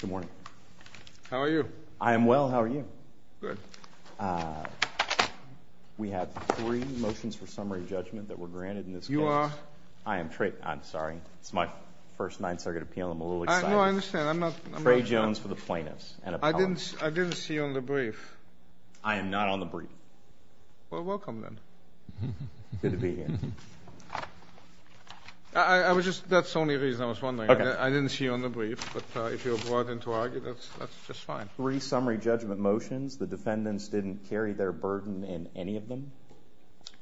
Good morning. How are you? I am well. How are you? Good. We have three motions for summary judgment that were granted in this case. You are? I am Trey. I'm sorry. It's my first Ninth Circuit appeal. I'm a little excited. No, I understand. I'm not. Trey Jones for the plaintiffs. I didn't see you on the brief. I am not on the brief. Well, welcome then. Good to be here. That's the only reason I was wondering. I didn't see you on the brief, but if you are brought in to argue, that's just fine. Three summary judgment motions. The defendants didn't carry their burden in any of them.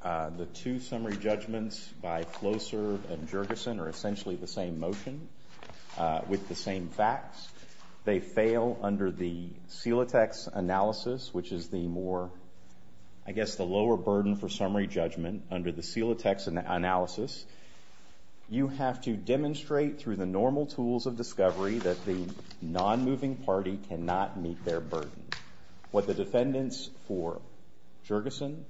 The two summary judgments by Flowserve and Jergesen are essentially the same motion with the same facts. They fail under the Celotex analysis, which is the more, I guess, the lower burden for the Celotex analysis. You have to demonstrate through the normal tools of discovery that the non-moving party cannot meet their burden. What the defendants for Jergesen,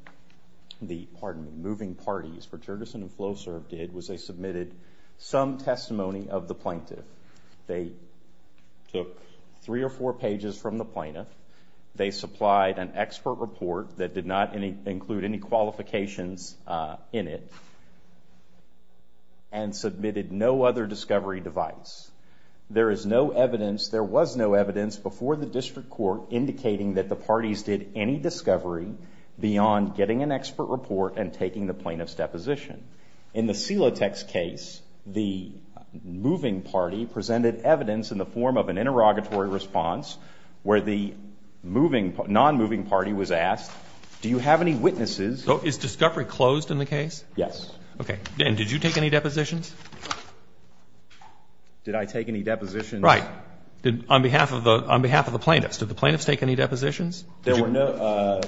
the, pardon me, moving parties for Jergesen and Flowserve did was they submitted some testimony of the plaintiff. They took three or four pages from the plaintiff. They supplied an expert report that did not include any qualifications in it and submitted no other discovery device. There is no evidence, there was no evidence before the district court indicating that the parties did any discovery beyond getting an expert report and taking the plaintiff's deposition. In the Celotex case, the moving party presented evidence in the form of an interrogatory response where the moving, non-moving party was asked, do you have any witnesses? So is discovery closed in the case? Yes. Okay. And did you take any depositions? Did I take any depositions? Right. On behalf of the plaintiffs, did the plaintiffs take any depositions? There were no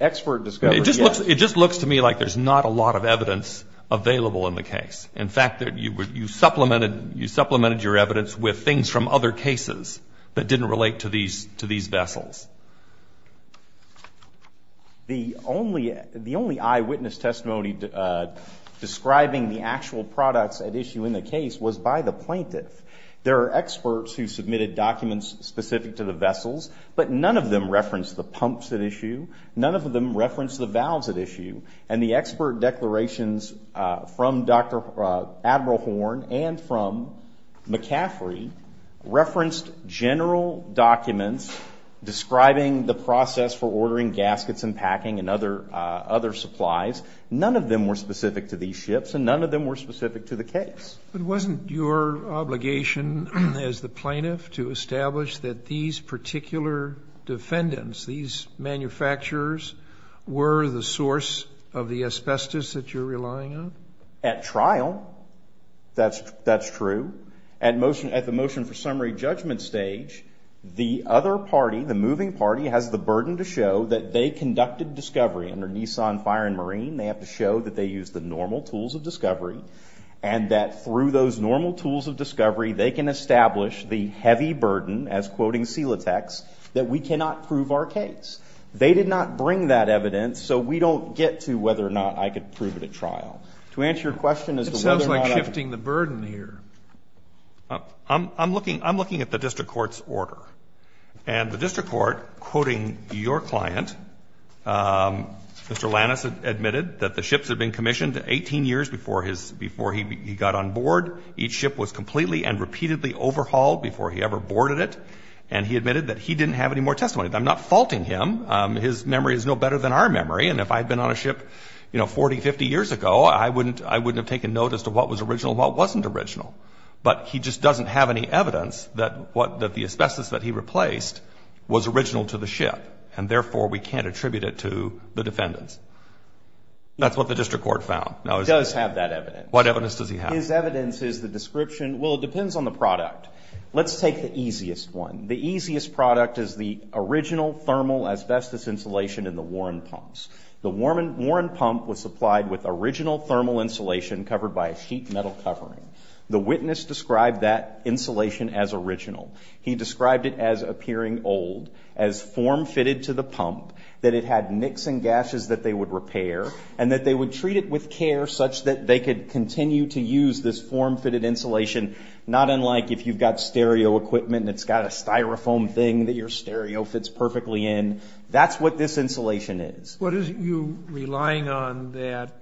expert discoveries, yes. It just looks to me like there's not a lot of evidence available in the case. In fact, you supplemented your evidence with things from other cases that didn't relate to these vessels. The only eyewitness testimony describing the actual products at issue in the case was by the plaintiff. There are experts who submitted documents specific to the vessels, but none of them referenced the pumps at issue, none of them referenced the valves at issue, and the expert declarations from Admiral Horn and from McCaffrey referenced general documents describing the process for ordering gaskets and packing and other supplies. None of them were specific to these ships and none of them were specific to the case. But wasn't your obligation as the plaintiff to establish that these particular defendants, these manufacturers, were the source of the asbestos that you're relying on? At trial, that's true. At the motion for summary judgment stage, the other party, the moving party, has the burden to show that they conducted discovery. Under Nissan, Fire, and Marine, they have to show that they used the normal tools of discovery and that through those normal tools of discovery, they can establish the heavy burden, as quoting Silatex, that we cannot prove our case. They did not bring that evidence, so we don't get to whether or not I could prove it at trial. To answer your question as to whether or not I could prove it at trial, I'm not going to do that. Sotomayor, I'm looking at the district court's order. And the district court, quoting your client, Mr. Lannis admitted that the ships had been commissioned 18 years before his – before he got on board. Each ship was completely and repeatedly overhauled before he ever boarded it. And he admitted that he didn't have any more testimony. I'm not faulting him. His memory is no better than our memory. And if I had been on a ship, you know, 40, 50 years ago, I wouldn't – I wouldn't have taken note as to what was original and what wasn't original. But he just doesn't have any evidence that what – that the asbestos that he replaced was original to the ship. And therefore, we can't attribute it to the defendants. That's what the district court found. Now, it's – He does have that evidence. What evidence does he have? His evidence is the description – well, it depends on the product. Let's take the easiest one. The easiest product is the original thermal asbestos insulation in the Warren pumps. The Warren pump was supplied with original thermal insulation covered by a sheet metal covering. The witness described that insulation as original. He described it as appearing old, as form-fitted to the pump, that it had nicks and gashes that they would repair, and that they would treat it with care such that they could continue to use this form-fitted insulation. Not unlike if you've got stereo equipment and it's got a Styrofoam thing that your stereo fits perfectly in. That's what this insulation is. What is it you're relying on that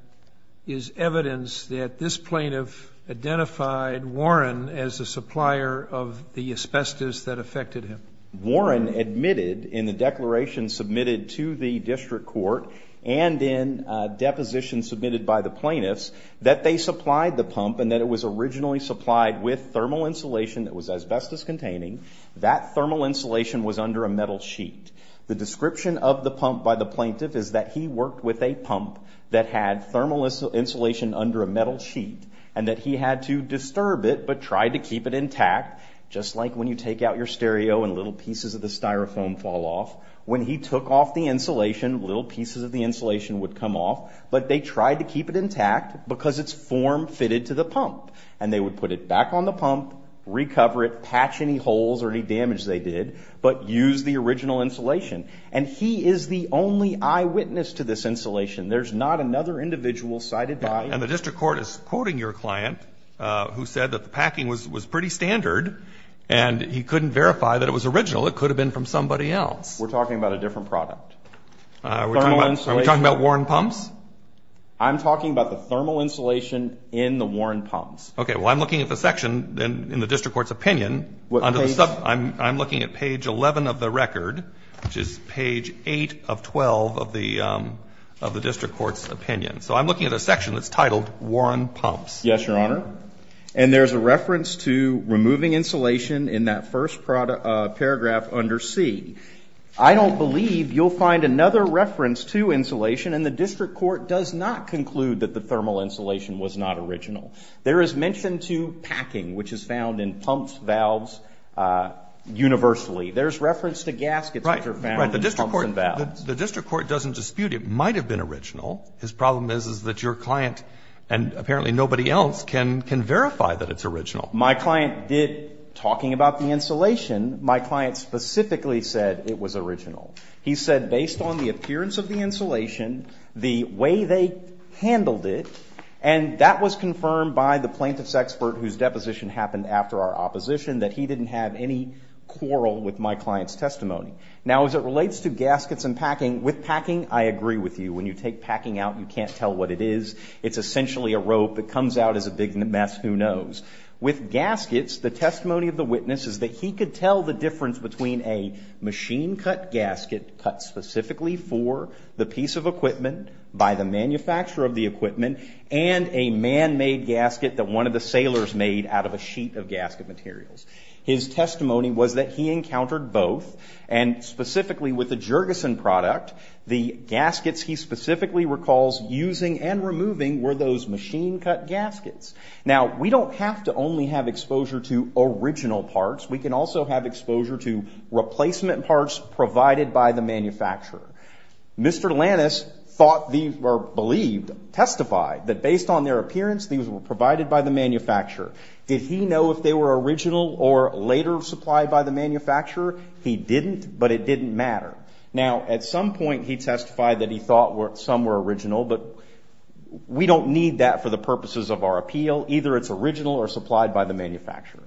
is evidence that this plaintiff identified Warren as the supplier of the asbestos that affected him? Warren admitted in the declaration submitted to the district court and in depositions submitted by the plaintiffs that they supplied the pump and that it was originally supplied with thermal insulation that was asbestos-containing. That thermal insulation was under a metal sheet. The description of the pump by the plaintiff is that he worked with a pump that had thermal insulation under a metal sheet, and that he had to disturb it but try to keep it intact, just like when you take out your stereo and little pieces of the Styrofoam fall off. When he took off the insulation, little pieces of the insulation would come off, but they tried to keep it intact because it's form-fitted to the pump. And they would put it back on the pump, recover it, patch any holes or any damage they did, but use the original insulation. And he is the only eyewitness to this insulation. There's not another individual cited by him. And the district court is quoting your client, who said that the packing was pretty standard, and he couldn't verify that it was original. It could have been from somebody else. We're talking about a different product. Thermal insulation. Are we talking about Warren Pumps? I'm talking about the thermal insulation in the Warren Pumps. Okay. Well, I'm looking at the section in the district court's opinion. I'm looking at page 11 of the record, which is page 8 of 12 of the district court's opinion. So I'm looking at a section that's titled Warren Pumps. Yes, Your Honor. And there's a reference to removing insulation in that first paragraph under C. I don't believe you'll find another reference to insulation, and the district court does not conclude that the thermal insulation was not original. There is mention to packing, which is found in pumps, valves, universally. There's reference to gaskets, which are found in pumps and valves. The district court doesn't dispute it might have been original. His problem is that your client and apparently nobody else can verify that it's original. My client did, talking about the insulation. My client specifically said it was original. He said based on the appearance of the insulation, the way they handled it, and that was confirmed by the plaintiff's expert, whose deposition happened after our opposition, that he didn't have any quarrel with my client's testimony. Now, as it relates to gaskets and packing, with packing, I agree with you. When you take packing out, you can't tell what it is. It's essentially a rope that comes out as a big mess, who knows. With gaskets, the testimony of the witness is that he could tell the difference between a machine-cut gasket cut specifically for the piece of equipment, by the manufacturer of the equipment, and a man-made gasket that one of the sailors made out of a sheet of gasket materials. His testimony was that he encountered both, and specifically with the Jurgensen product, the gaskets he specifically recalls using and removing were those machine-cut gaskets. Now, we don't have to only have exposure to original parts. We can also have exposure to replacement parts provided by the manufacturer. Mr. Lannis thought or believed, testified, that based on their appearance, these were provided by the manufacturer. Did he know if they were original or later supplied by the manufacturer? He didn't, but it didn't matter. Now, at some point, he testified that he thought some were original, but we don't need that for the purposes of our appeal. Either it's original or supplied by the manufacturer.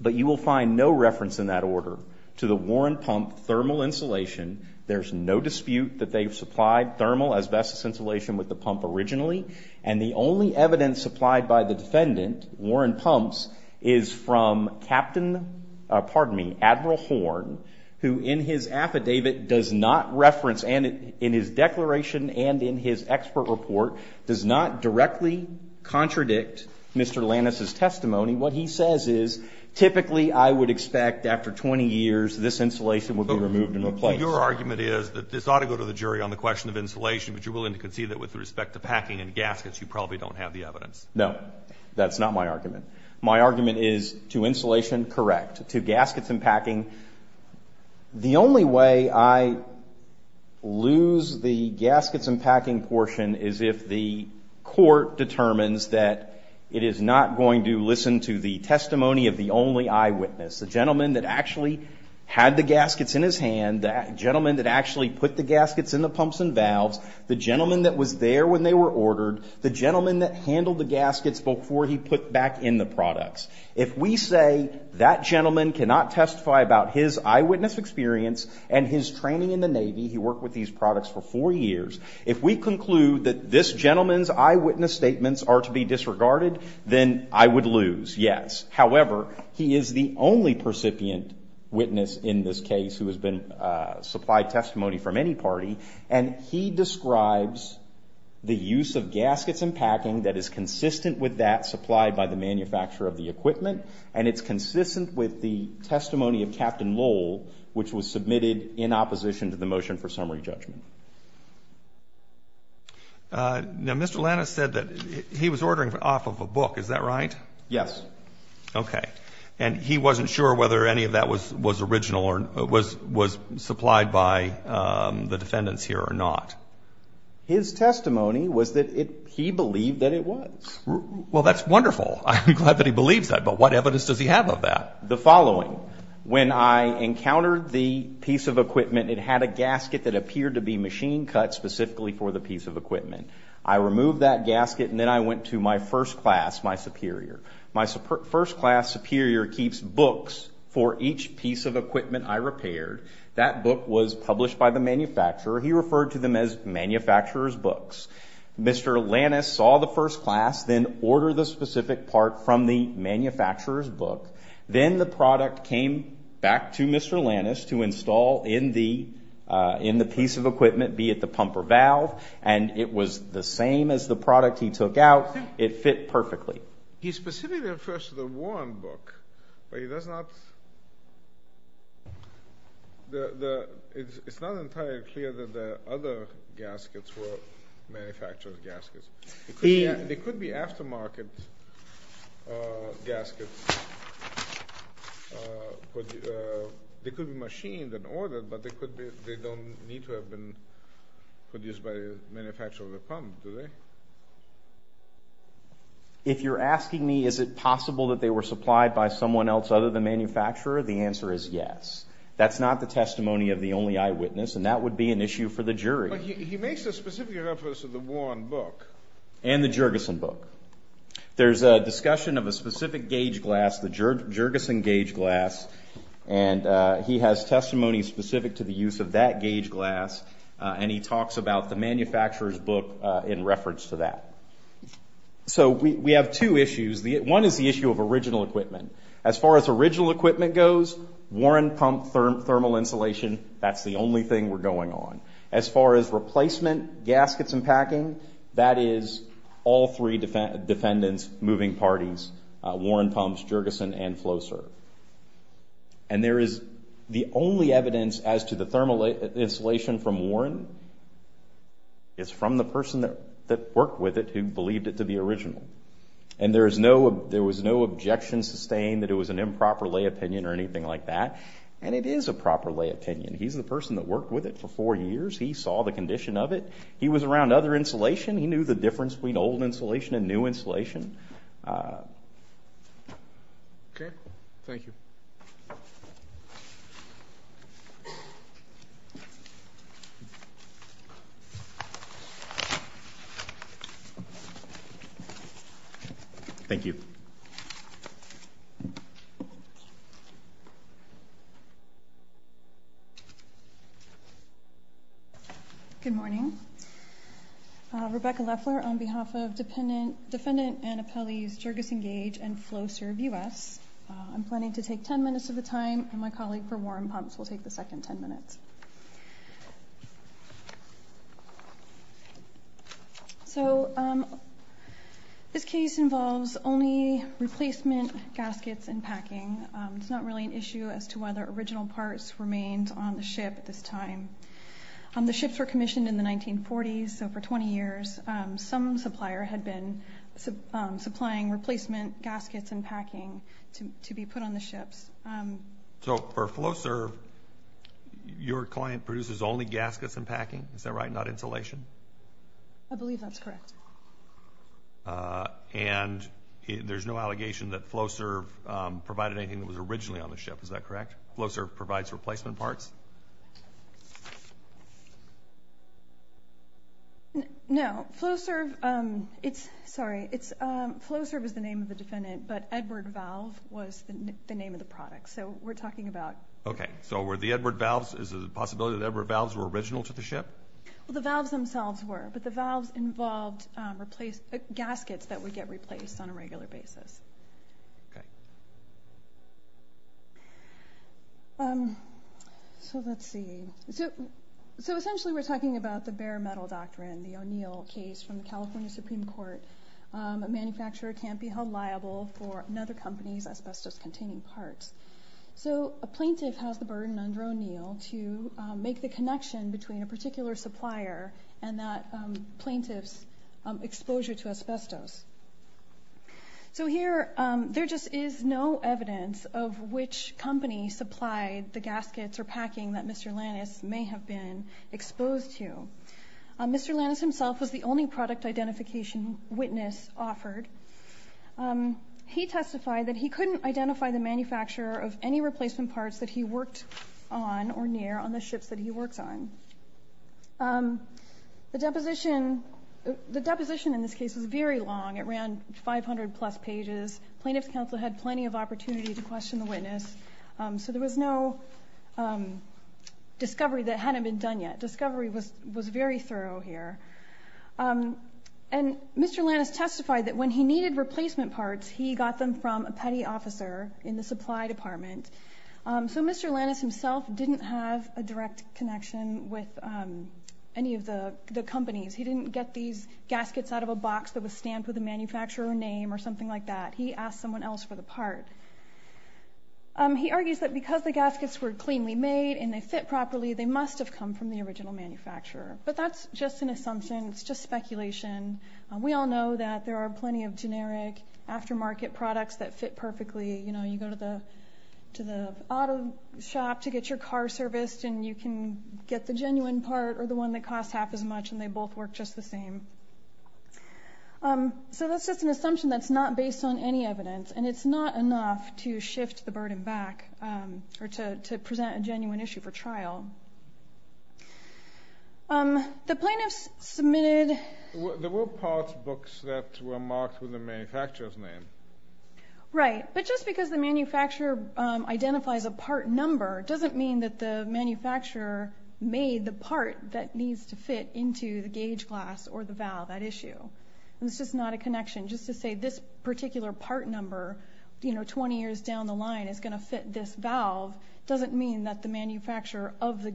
But you will find no reference in that order to the Warren Pump thermal insulation. There's no dispute that they've supplied thermal asbestos insulation with the pump originally, and the only evidence supplied by the defendant, Warren Pumps, is from Admiral Horn, who in his affidavit does not reference, and in his declaration and in his expert report, does not directly contradict Mr. Lannis' testimony. What he says is, typically, I would expect after 20 years, this insulation would be removed and replaced. Your argument is that this ought to go to the jury on the question of insulation, but you're willing to concede that with respect to packing and gaskets, you probably don't have the evidence. No. That's not my argument. My argument is, to insulation, correct. To gaskets and packing. The only way I lose the gaskets and packing portion is if the court determines that it is not going to listen to the testimony of the only eyewitness, the gentleman that actually had the gaskets in his hand, the gentleman that actually put the gaskets in the pumps and valves, the gentleman that was there when they were ordered, the gentleman that handled the gaskets before he put back in the products. If we say that gentleman cannot testify about his eyewitness experience and his training in the Navy, he worked with these products for four years, if we conclude that this gentleman's eyewitness statements are to be disregarded, then I would lose, yes. However, he is the only percipient witness in this case who has been supplied testimony from any party, and he describes the use of gaskets and packing that is consistent with that supplied by the manufacturer of the equipment, and it's consistent with the testimony of Captain Lowell, which was submitted in opposition to the motion for summary judgment. Now, Mr. Lannis said that he was ordering off of a book, is that right? Yes. Okay. And he wasn't sure whether any of that was original or was supplied by the defendants here or not? His testimony was that he believed that it was. Well, that's wonderful. I'm glad that he believes that, but what evidence does he have of that? The following. When I encountered the piece of equipment, it had a gasket that appeared to be machine cut specifically for the piece of equipment. I removed that gasket, and then I went to my first class, my superior. My first class superior keeps books for each piece of equipment I repaired. That book was published by the manufacturer. He referred to them as manufacturer's books. Mr. Lannis saw the first class, then ordered the specific part from the manufacturer's book. Then the product came back to Mr. Lannis to install in the piece of equipment, be it the pumper valve, and it was the same as the product he took out. It fit perfectly. He specifically refers to the Warren book, but it's not entirely clear that the other gaskets were manufacturer's gaskets. They could be aftermarket gaskets. They could be machined and ordered, but they don't need to have been produced by the manufacturer of the pump, do they? If you're asking me, is it possible that they were supplied by someone else other than manufacturer, the answer is yes. That's not the testimony of the only eyewitness, and that would be an issue for the jury. But he makes a specific reference to the Warren book. And the Jergesen book. There's a discussion of a specific gauge glass, the Jergesen gauge glass, and he has testimony specific to the use of that gauge glass, and he talks about the manufacturer's book in reference to that. So we have two issues. One is the issue of original equipment. As far as original equipment goes, Warren pump thermal insulation, that's the only thing we're going on. As far as replacement gaskets and packing, that is all three defendants, moving parties, Warren pumps, Jergesen, and FlowServe. And there is the only evidence as to the thermal insulation from Warren is from the person that worked with it who believed it to be original. And there was no objection sustained that it was an improper lay opinion or anything like that. And it is a proper lay opinion. He's the person that worked with it for four years. He saw the condition of it. He was around other insulation. He knew the difference between old insulation and new insulation. Okay. Thank you. Thank you. Good morning. Rebecca Leffler on behalf of Defendant Anna Pelley's Jergesen Gauge and FlowServe US. I'm planning to take 10 minutes of the time, and my colleague from Warren Pumps will take the second 10 minutes. So this case involves only replacement gaskets and packing. It's not really an issue as to whether original parts remained on the ship at this time. The ships were commissioned in the 1940s, so for 20 years, some supplier had been supplying replacement gaskets and packing to be put on the ships. So for FlowServe, your client produces only gaskets and packing? Is that right? Not insulation? I believe that's correct. And there's no allegation that FlowServe provided anything that was originally on the ship. Is that correct? FlowServe provides replacement parts? No. FlowServe is the name of the defendant, but Edward Valve was the name of the product. So we're talking about... Okay. So were the Edward Valves... Is it a possibility that Edward Valves were original to the ship? Well, the valves themselves were. But the valves involved gaskets that would get replaced on a regular basis. Okay. So let's see. So essentially we're talking about the bare metal doctrine, the O'Neill case from the California Supreme Court. A manufacturer can't be held liable for another company's asbestos-containing parts. So a plaintiff has the burden under O'Neill to make the connection between a particular supplier and that plaintiff's exposure to asbestos. So here there just is no evidence of which company supplied the gaskets or packing that Mr. Lannis may have been exposed to. Mr. Lannis himself was the only product identification witness offered. He testified that he couldn't identify the manufacturer of any replacement parts that he worked on or near on the ships that he worked on. The deposition in this case was very long. It ran 500 plus pages. Plaintiff's counsel had plenty of opportunity to question the witness. So there was no discovery that hadn't been done yet. Discovery was very thorough here. And Mr. Lannis testified that when he needed replacement parts, he got them from a petty officer in the supply department. So Mr. Lannis himself didn't have a direct connection with any of the companies. He didn't get these gaskets out of a box that was stamped with the manufacturer name or something like that. He asked someone else for the part. He argues that because the gaskets were cleanly made and they fit properly, they must have come from the original manufacturer. But that's just an assumption. It's just speculation. We all know that there are plenty of generic aftermarket products that fit perfectly. You go to the auto shop to get your car serviced and you can get the genuine part or the one that costs half as much and they both work just the same. So that's just an assumption that's not based on any evidence. And it's not enough to shift the burden back or to present a genuine issue for trial. The plaintiffs submitted... There were parts books that were marked with the manufacturer's name. Right. But just because the manufacturer identifies a part number doesn't mean that the manufacturer made the part that needs to fit into the gauge glass or the valve at issue. It's just not a connection. Just to say this particular part number 20 years down the line is going to fit this valve doesn't mean that the manufacturer of the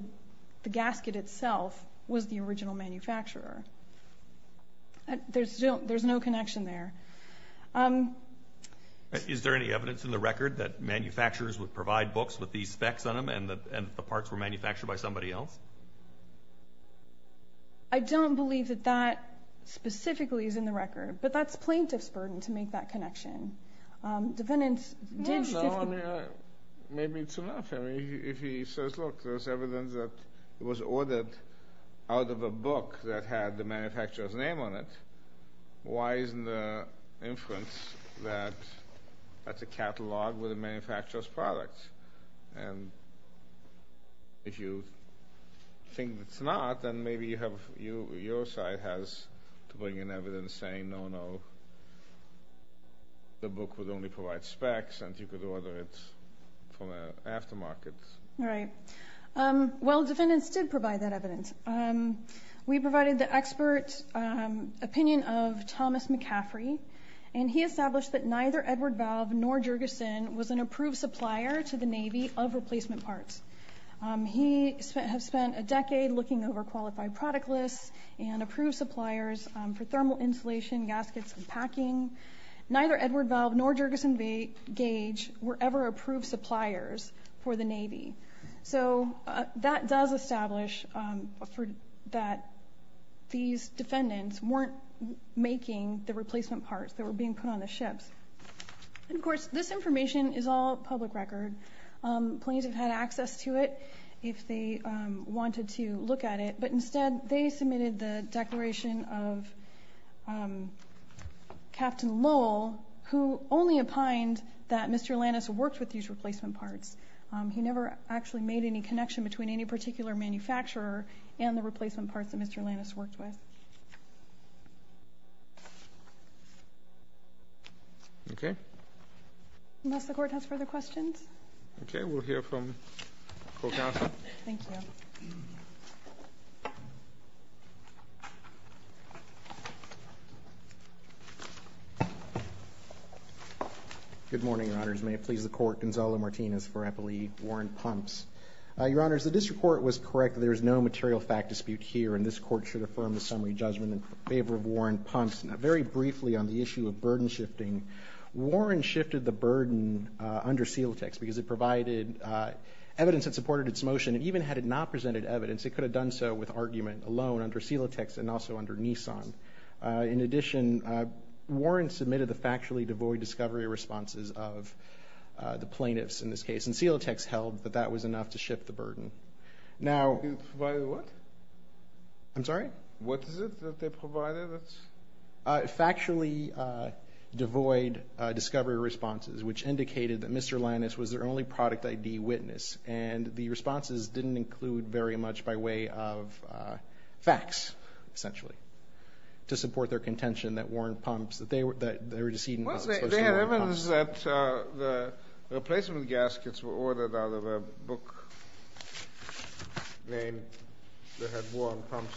gasket itself was the original manufacturer. There's no connection there. Is there any evidence in the record that manufacturers would provide books with these specs on them and the parts were manufactured by somebody else? I don't believe that that specifically is in the record but that's plaintiff's burden to make that connection. Defendants did... Maybe it's enough. If he says, look, there's evidence that it was ordered out of a book that had the manufacturer's name on it why isn't the inference that that's a catalog with the manufacturer's products? And if you think it's not then maybe your side has to bring in evidence saying, no, no, the book would only provide specs and you could order it from an aftermarket. Right. Well, defendants did provide that evidence. We provided the expert opinion of Thomas McCaffrey and he established that neither Edward Valve nor Jurgensen was an approved supplier to the Navy of replacement parts. He has spent a decade looking over qualified product lists and approved suppliers for thermal insulation, gaskets, and packing. Neither Edward Valve nor Jurgensen Gauge were ever approved suppliers for the Navy. So that does establish that these defendants weren't making the replacement parts that were being put on the ships. And of course, this information is all public record. Plaintiffs had access to it if they wanted to look at it but instead they submitted the declaration of Captain Lowell who only opined that Mr. Lannis worked with these replacement parts. He never actually made any connection between any particular manufacturer and the replacement parts that Mr. Lannis worked with. Okay. Unless the Court has further questions? Okay, we'll hear from the Co-Counsel. Thank you. Good morning, Your Honors. May it please the Court, Gonzalo Martinez for Eppley, Warren Pumps. Your Honors, the District Court was correct that there is no material fact dispute here and this Court should affirm the summary judgment in favor of Warren Pumps. Now very briefly on the issue of burden shifting, Warren shifted the burden under Celotex because it provided evidence that supported its motion and even had it not presented evidence, it could have done so with argument alone under Celotex and also under Nissan. In addition, Warren submitted the factually devoid discovery responses of the plaintiffs in this case and Celotex held that that was enough to shift the burden. Now... Provided what? I'm sorry? What is it that they provided? Factually devoid discovery responses which indicated that Mr. Lannis was their only product ID witness and the responses didn't include very much by way of facts, essentially, to support their contention that Warren Pumps... Well, they had evidence that the replacement gaskets were ordered out of a book that had Warren Pumps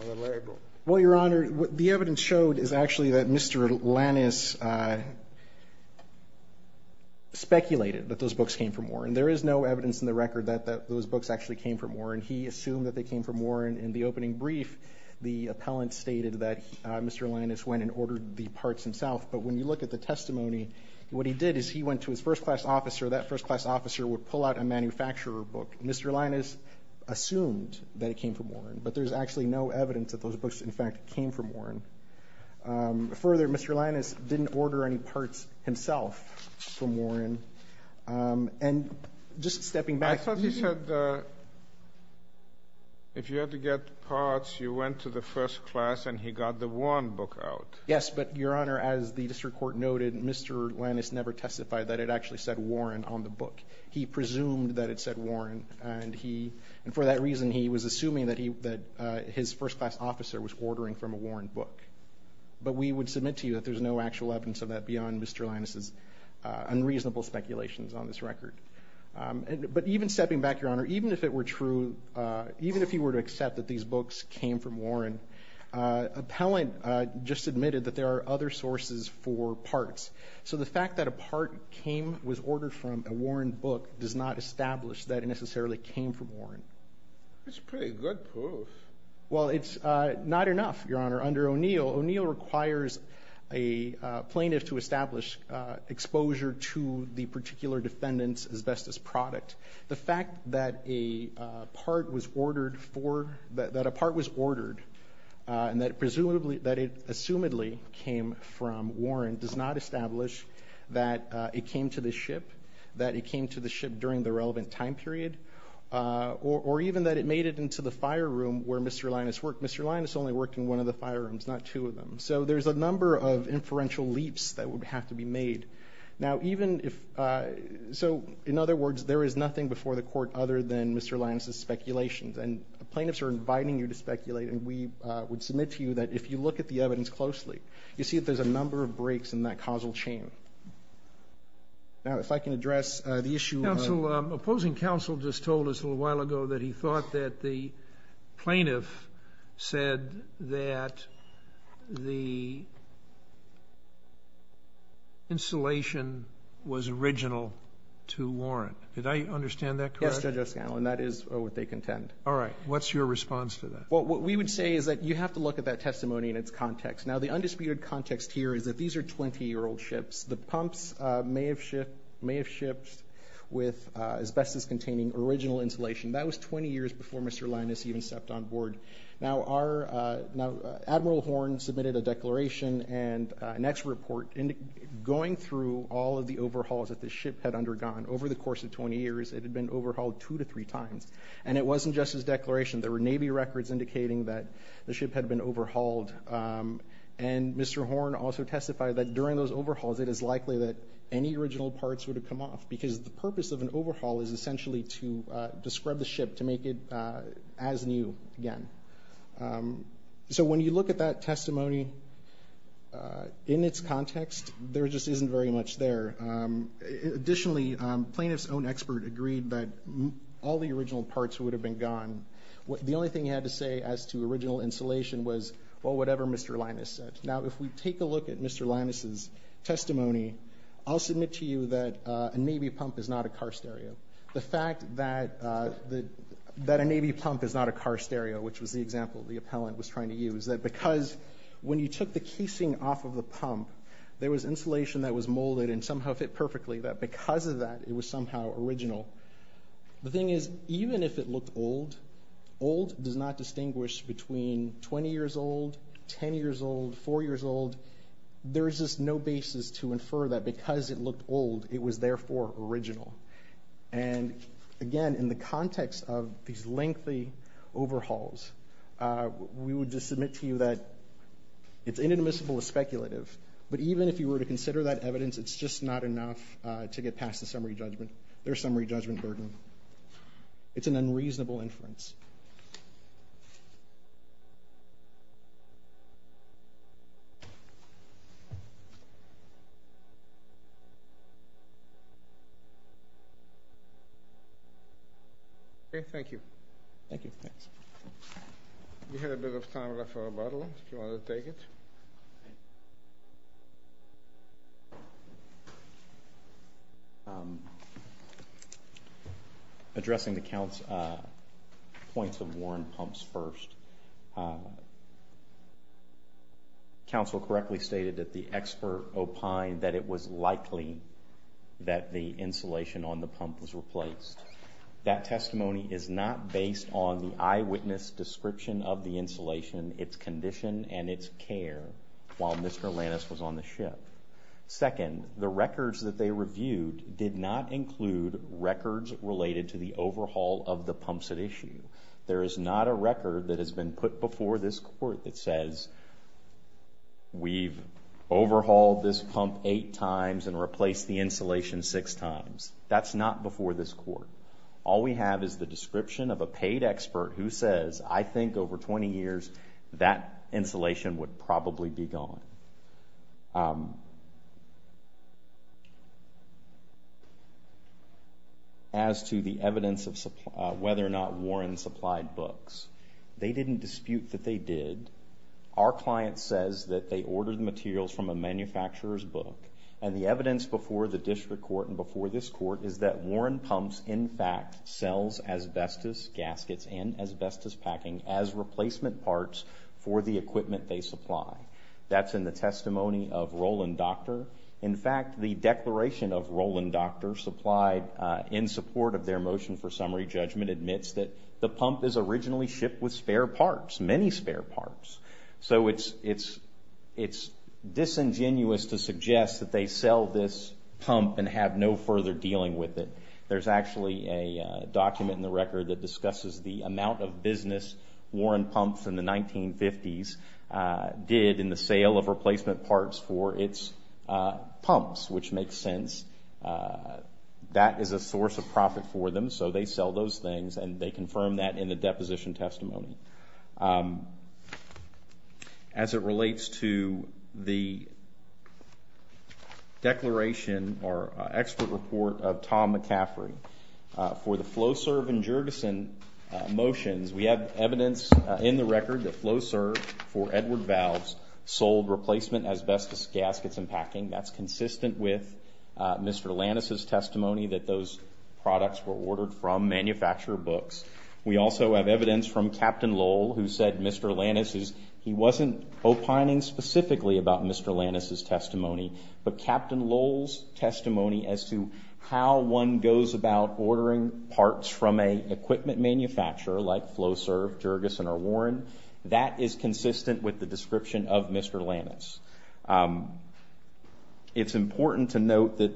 on the label. Well, Your Honor, what the evidence showed is actually that Mr. Lannis speculated that those books came from Warren. There is no evidence in the record that those books actually came from Warren. He assumed that they came from Warren. In the opening brief, the appellant stated that Mr. Lannis went and ordered the parts himself, but when you look at the testimony, what he did is he went to his first-class officer. That first-class officer would pull out a manufacturer book. Mr. Lannis assumed that it came from Warren, but there's actually no evidence that those books, in fact, came from Warren. Further, Mr. Lannis didn't order any parts himself from Warren. And just stepping back... I thought he said if you had to get parts, you went to the first class and he got the Warren book out. Yes, but, Your Honor, as the district court noted, Mr. Lannis never testified that it actually said Warren on the book. He presumed that it said Warren. And for that reason, he was assuming that his first-class officer was ordering from a Warren book. But we would submit to you that there's no actual evidence of that beyond Mr. Lannis' unreasonable speculations on this record. But even stepping back, Your Honor, even if it were true, even if he were to accept that these books came from Warren, appellant just admitted that there are other sources for parts. So the fact that a part was ordered from a Warren book does not establish that it necessarily came from Warren. That's pretty good proof. Well, it's not enough, Your Honor. Under O'Neill, O'Neill requires a plaintiff to establish exposure to the particular defendant's asbestos product. The fact that a part was ordered for... and that it presumably... that it assumedly came from Warren does not establish that it came to the ship, that it came to the ship during the relevant time period, or even that it made it into the fire room where Mr. Lannis worked. Mr. Lannis only worked in one of the fire rooms, not two of them. So there's a number of inferential leaps that would have to be made. Now, even if... So, in other words, there is nothing before the court other than Mr. Lannis' speculations. And the plaintiffs are inviting you to speculate and we would submit to you that if you look at the evidence closely, you see that there's a number of breaks in that causal chain. Now, if I can address the issue of... Counsel, opposing counsel just told us a little while ago that he thought that the plaintiff said that the insulation was original to Warren. Did I understand that correctly? Yes, Judge O'Scanlan, that is what they contend. All right. What's your response to that? Well, what we would say is that you have to look at that testimony and its context. Now, the undisputed context here is that these are 20-year-old ships. The pumps may have shipped with asbestos-containing original insulation. That was 20 years before Mr. Lannis even stepped on board. Now, Admiral Horne submitted a declaration and an ex report going through all of the overhauls that the ship had undergone over the course of 20 years. It had been overhauled two to three times and it wasn't just as declarative declaration. There were Navy records indicating that the ship had been overhauled and Mr. Horne also testified that during those overhauls it is likely that any original parts would have come off because the purpose of an overhaul is essentially to scrub the ship to make it as new again. So when you look at that testimony in its context, there just isn't very much there. Additionally, plaintiff's own expert agreed that all the original parts would have been gone The only thing he had to say as to original insulation was whatever Mr. Linus said. Now if we take a look at Mr. Linus' testimony I'll submit to you that a Navy pump is not a car stereo. The fact that a Navy pump is not a car stereo which was the example the appellant was trying to use is that because when you took the casing off of the pump there was insulation that was molded and somehow fit perfectly that because of that it was somehow original. The thing is even if it looked old old does not distinguish between 20 years old 10 years old 4 years old there is just no basis to infer that because it looked old it was therefore original. And again in the context of these lengthy overhauls we would just submit to you that it's inadmissible it's speculative but even if you were to consider that evidence it's just not enough to get past the summary judgment their summary judgment it's a burden it's an unreasonable inference. Okay, thank you. Thank you. Thanks. We have a bit of time left for rebuttal if you want to take it. Addressing the points of Warren Pumps first Council correctly stated that the expert opined that it was likely that the insulation on the pump was replaced. That testimony is not based on the eyewitness description of the insulation it's condition and it's care while Mr. Lantis was on the ship. Second the records that they reviewed did not include records related to the overhaul of the pumps at issue. There is not a record that has been put before this court that says we've overhauled this pump eight times and replaced the insulation six times that's not before this court. All we have is the description of a paid expert who says I think over twenty years that insulation would probably be gone. As to the evidence of whether or not Warren supplied books they didn't dispute that they did. Our client says that they ordered materials from a manufacturer's book and the evidence before the court Warren supplied spare parts for the equipment they supply. That's in the testimony of Roland Doctor. In fact the declaration of Roland Doctor supplied in support of their motion for summary judgment admits that the pump is originally shipped with spare parts. Many spare parts. So it's disingenuous to suggest that they sell this pump and have no further dealing with it. There's actually a document in the record that discusses the amount of business Warren pumps in the 1950s did in the sale of replacement parts for its pumps. Which makes sense. That is a source of profit for them. So they sell those things and they confirm that in the deposition testimony. As it relates to the declaration or expert report of Tom McCaffrey for the company. In the record the FlowServe for Edward Valves sold asbestos gaskets and packing. That's consistent with Mr. Lannis' testimony that those products were ordered from manufacturer books. We also have evidence from Mr. Warren. That is consistent with the description of Mr. Lannis. It's important to note that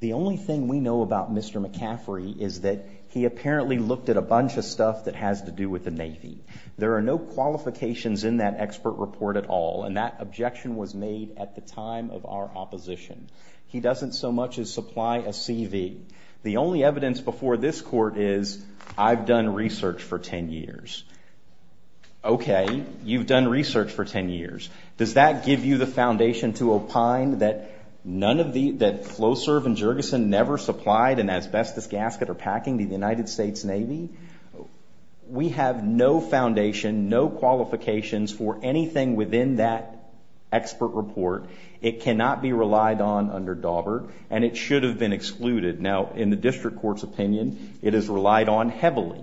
the only thing we know about Mr. McCaffrey is that he apparently looked at a bunch of stuff that has to do with the Navy. There are no qualifications for anything within that expert report. It cannot be relied under Daubert and it should have been excluded. In the district court's opinion it is relied on heavily.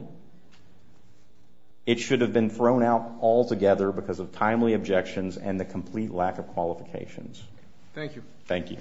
It should have been thrown out altogether because of timely objections and the complete lack of qualifications. Thank you. Thank you.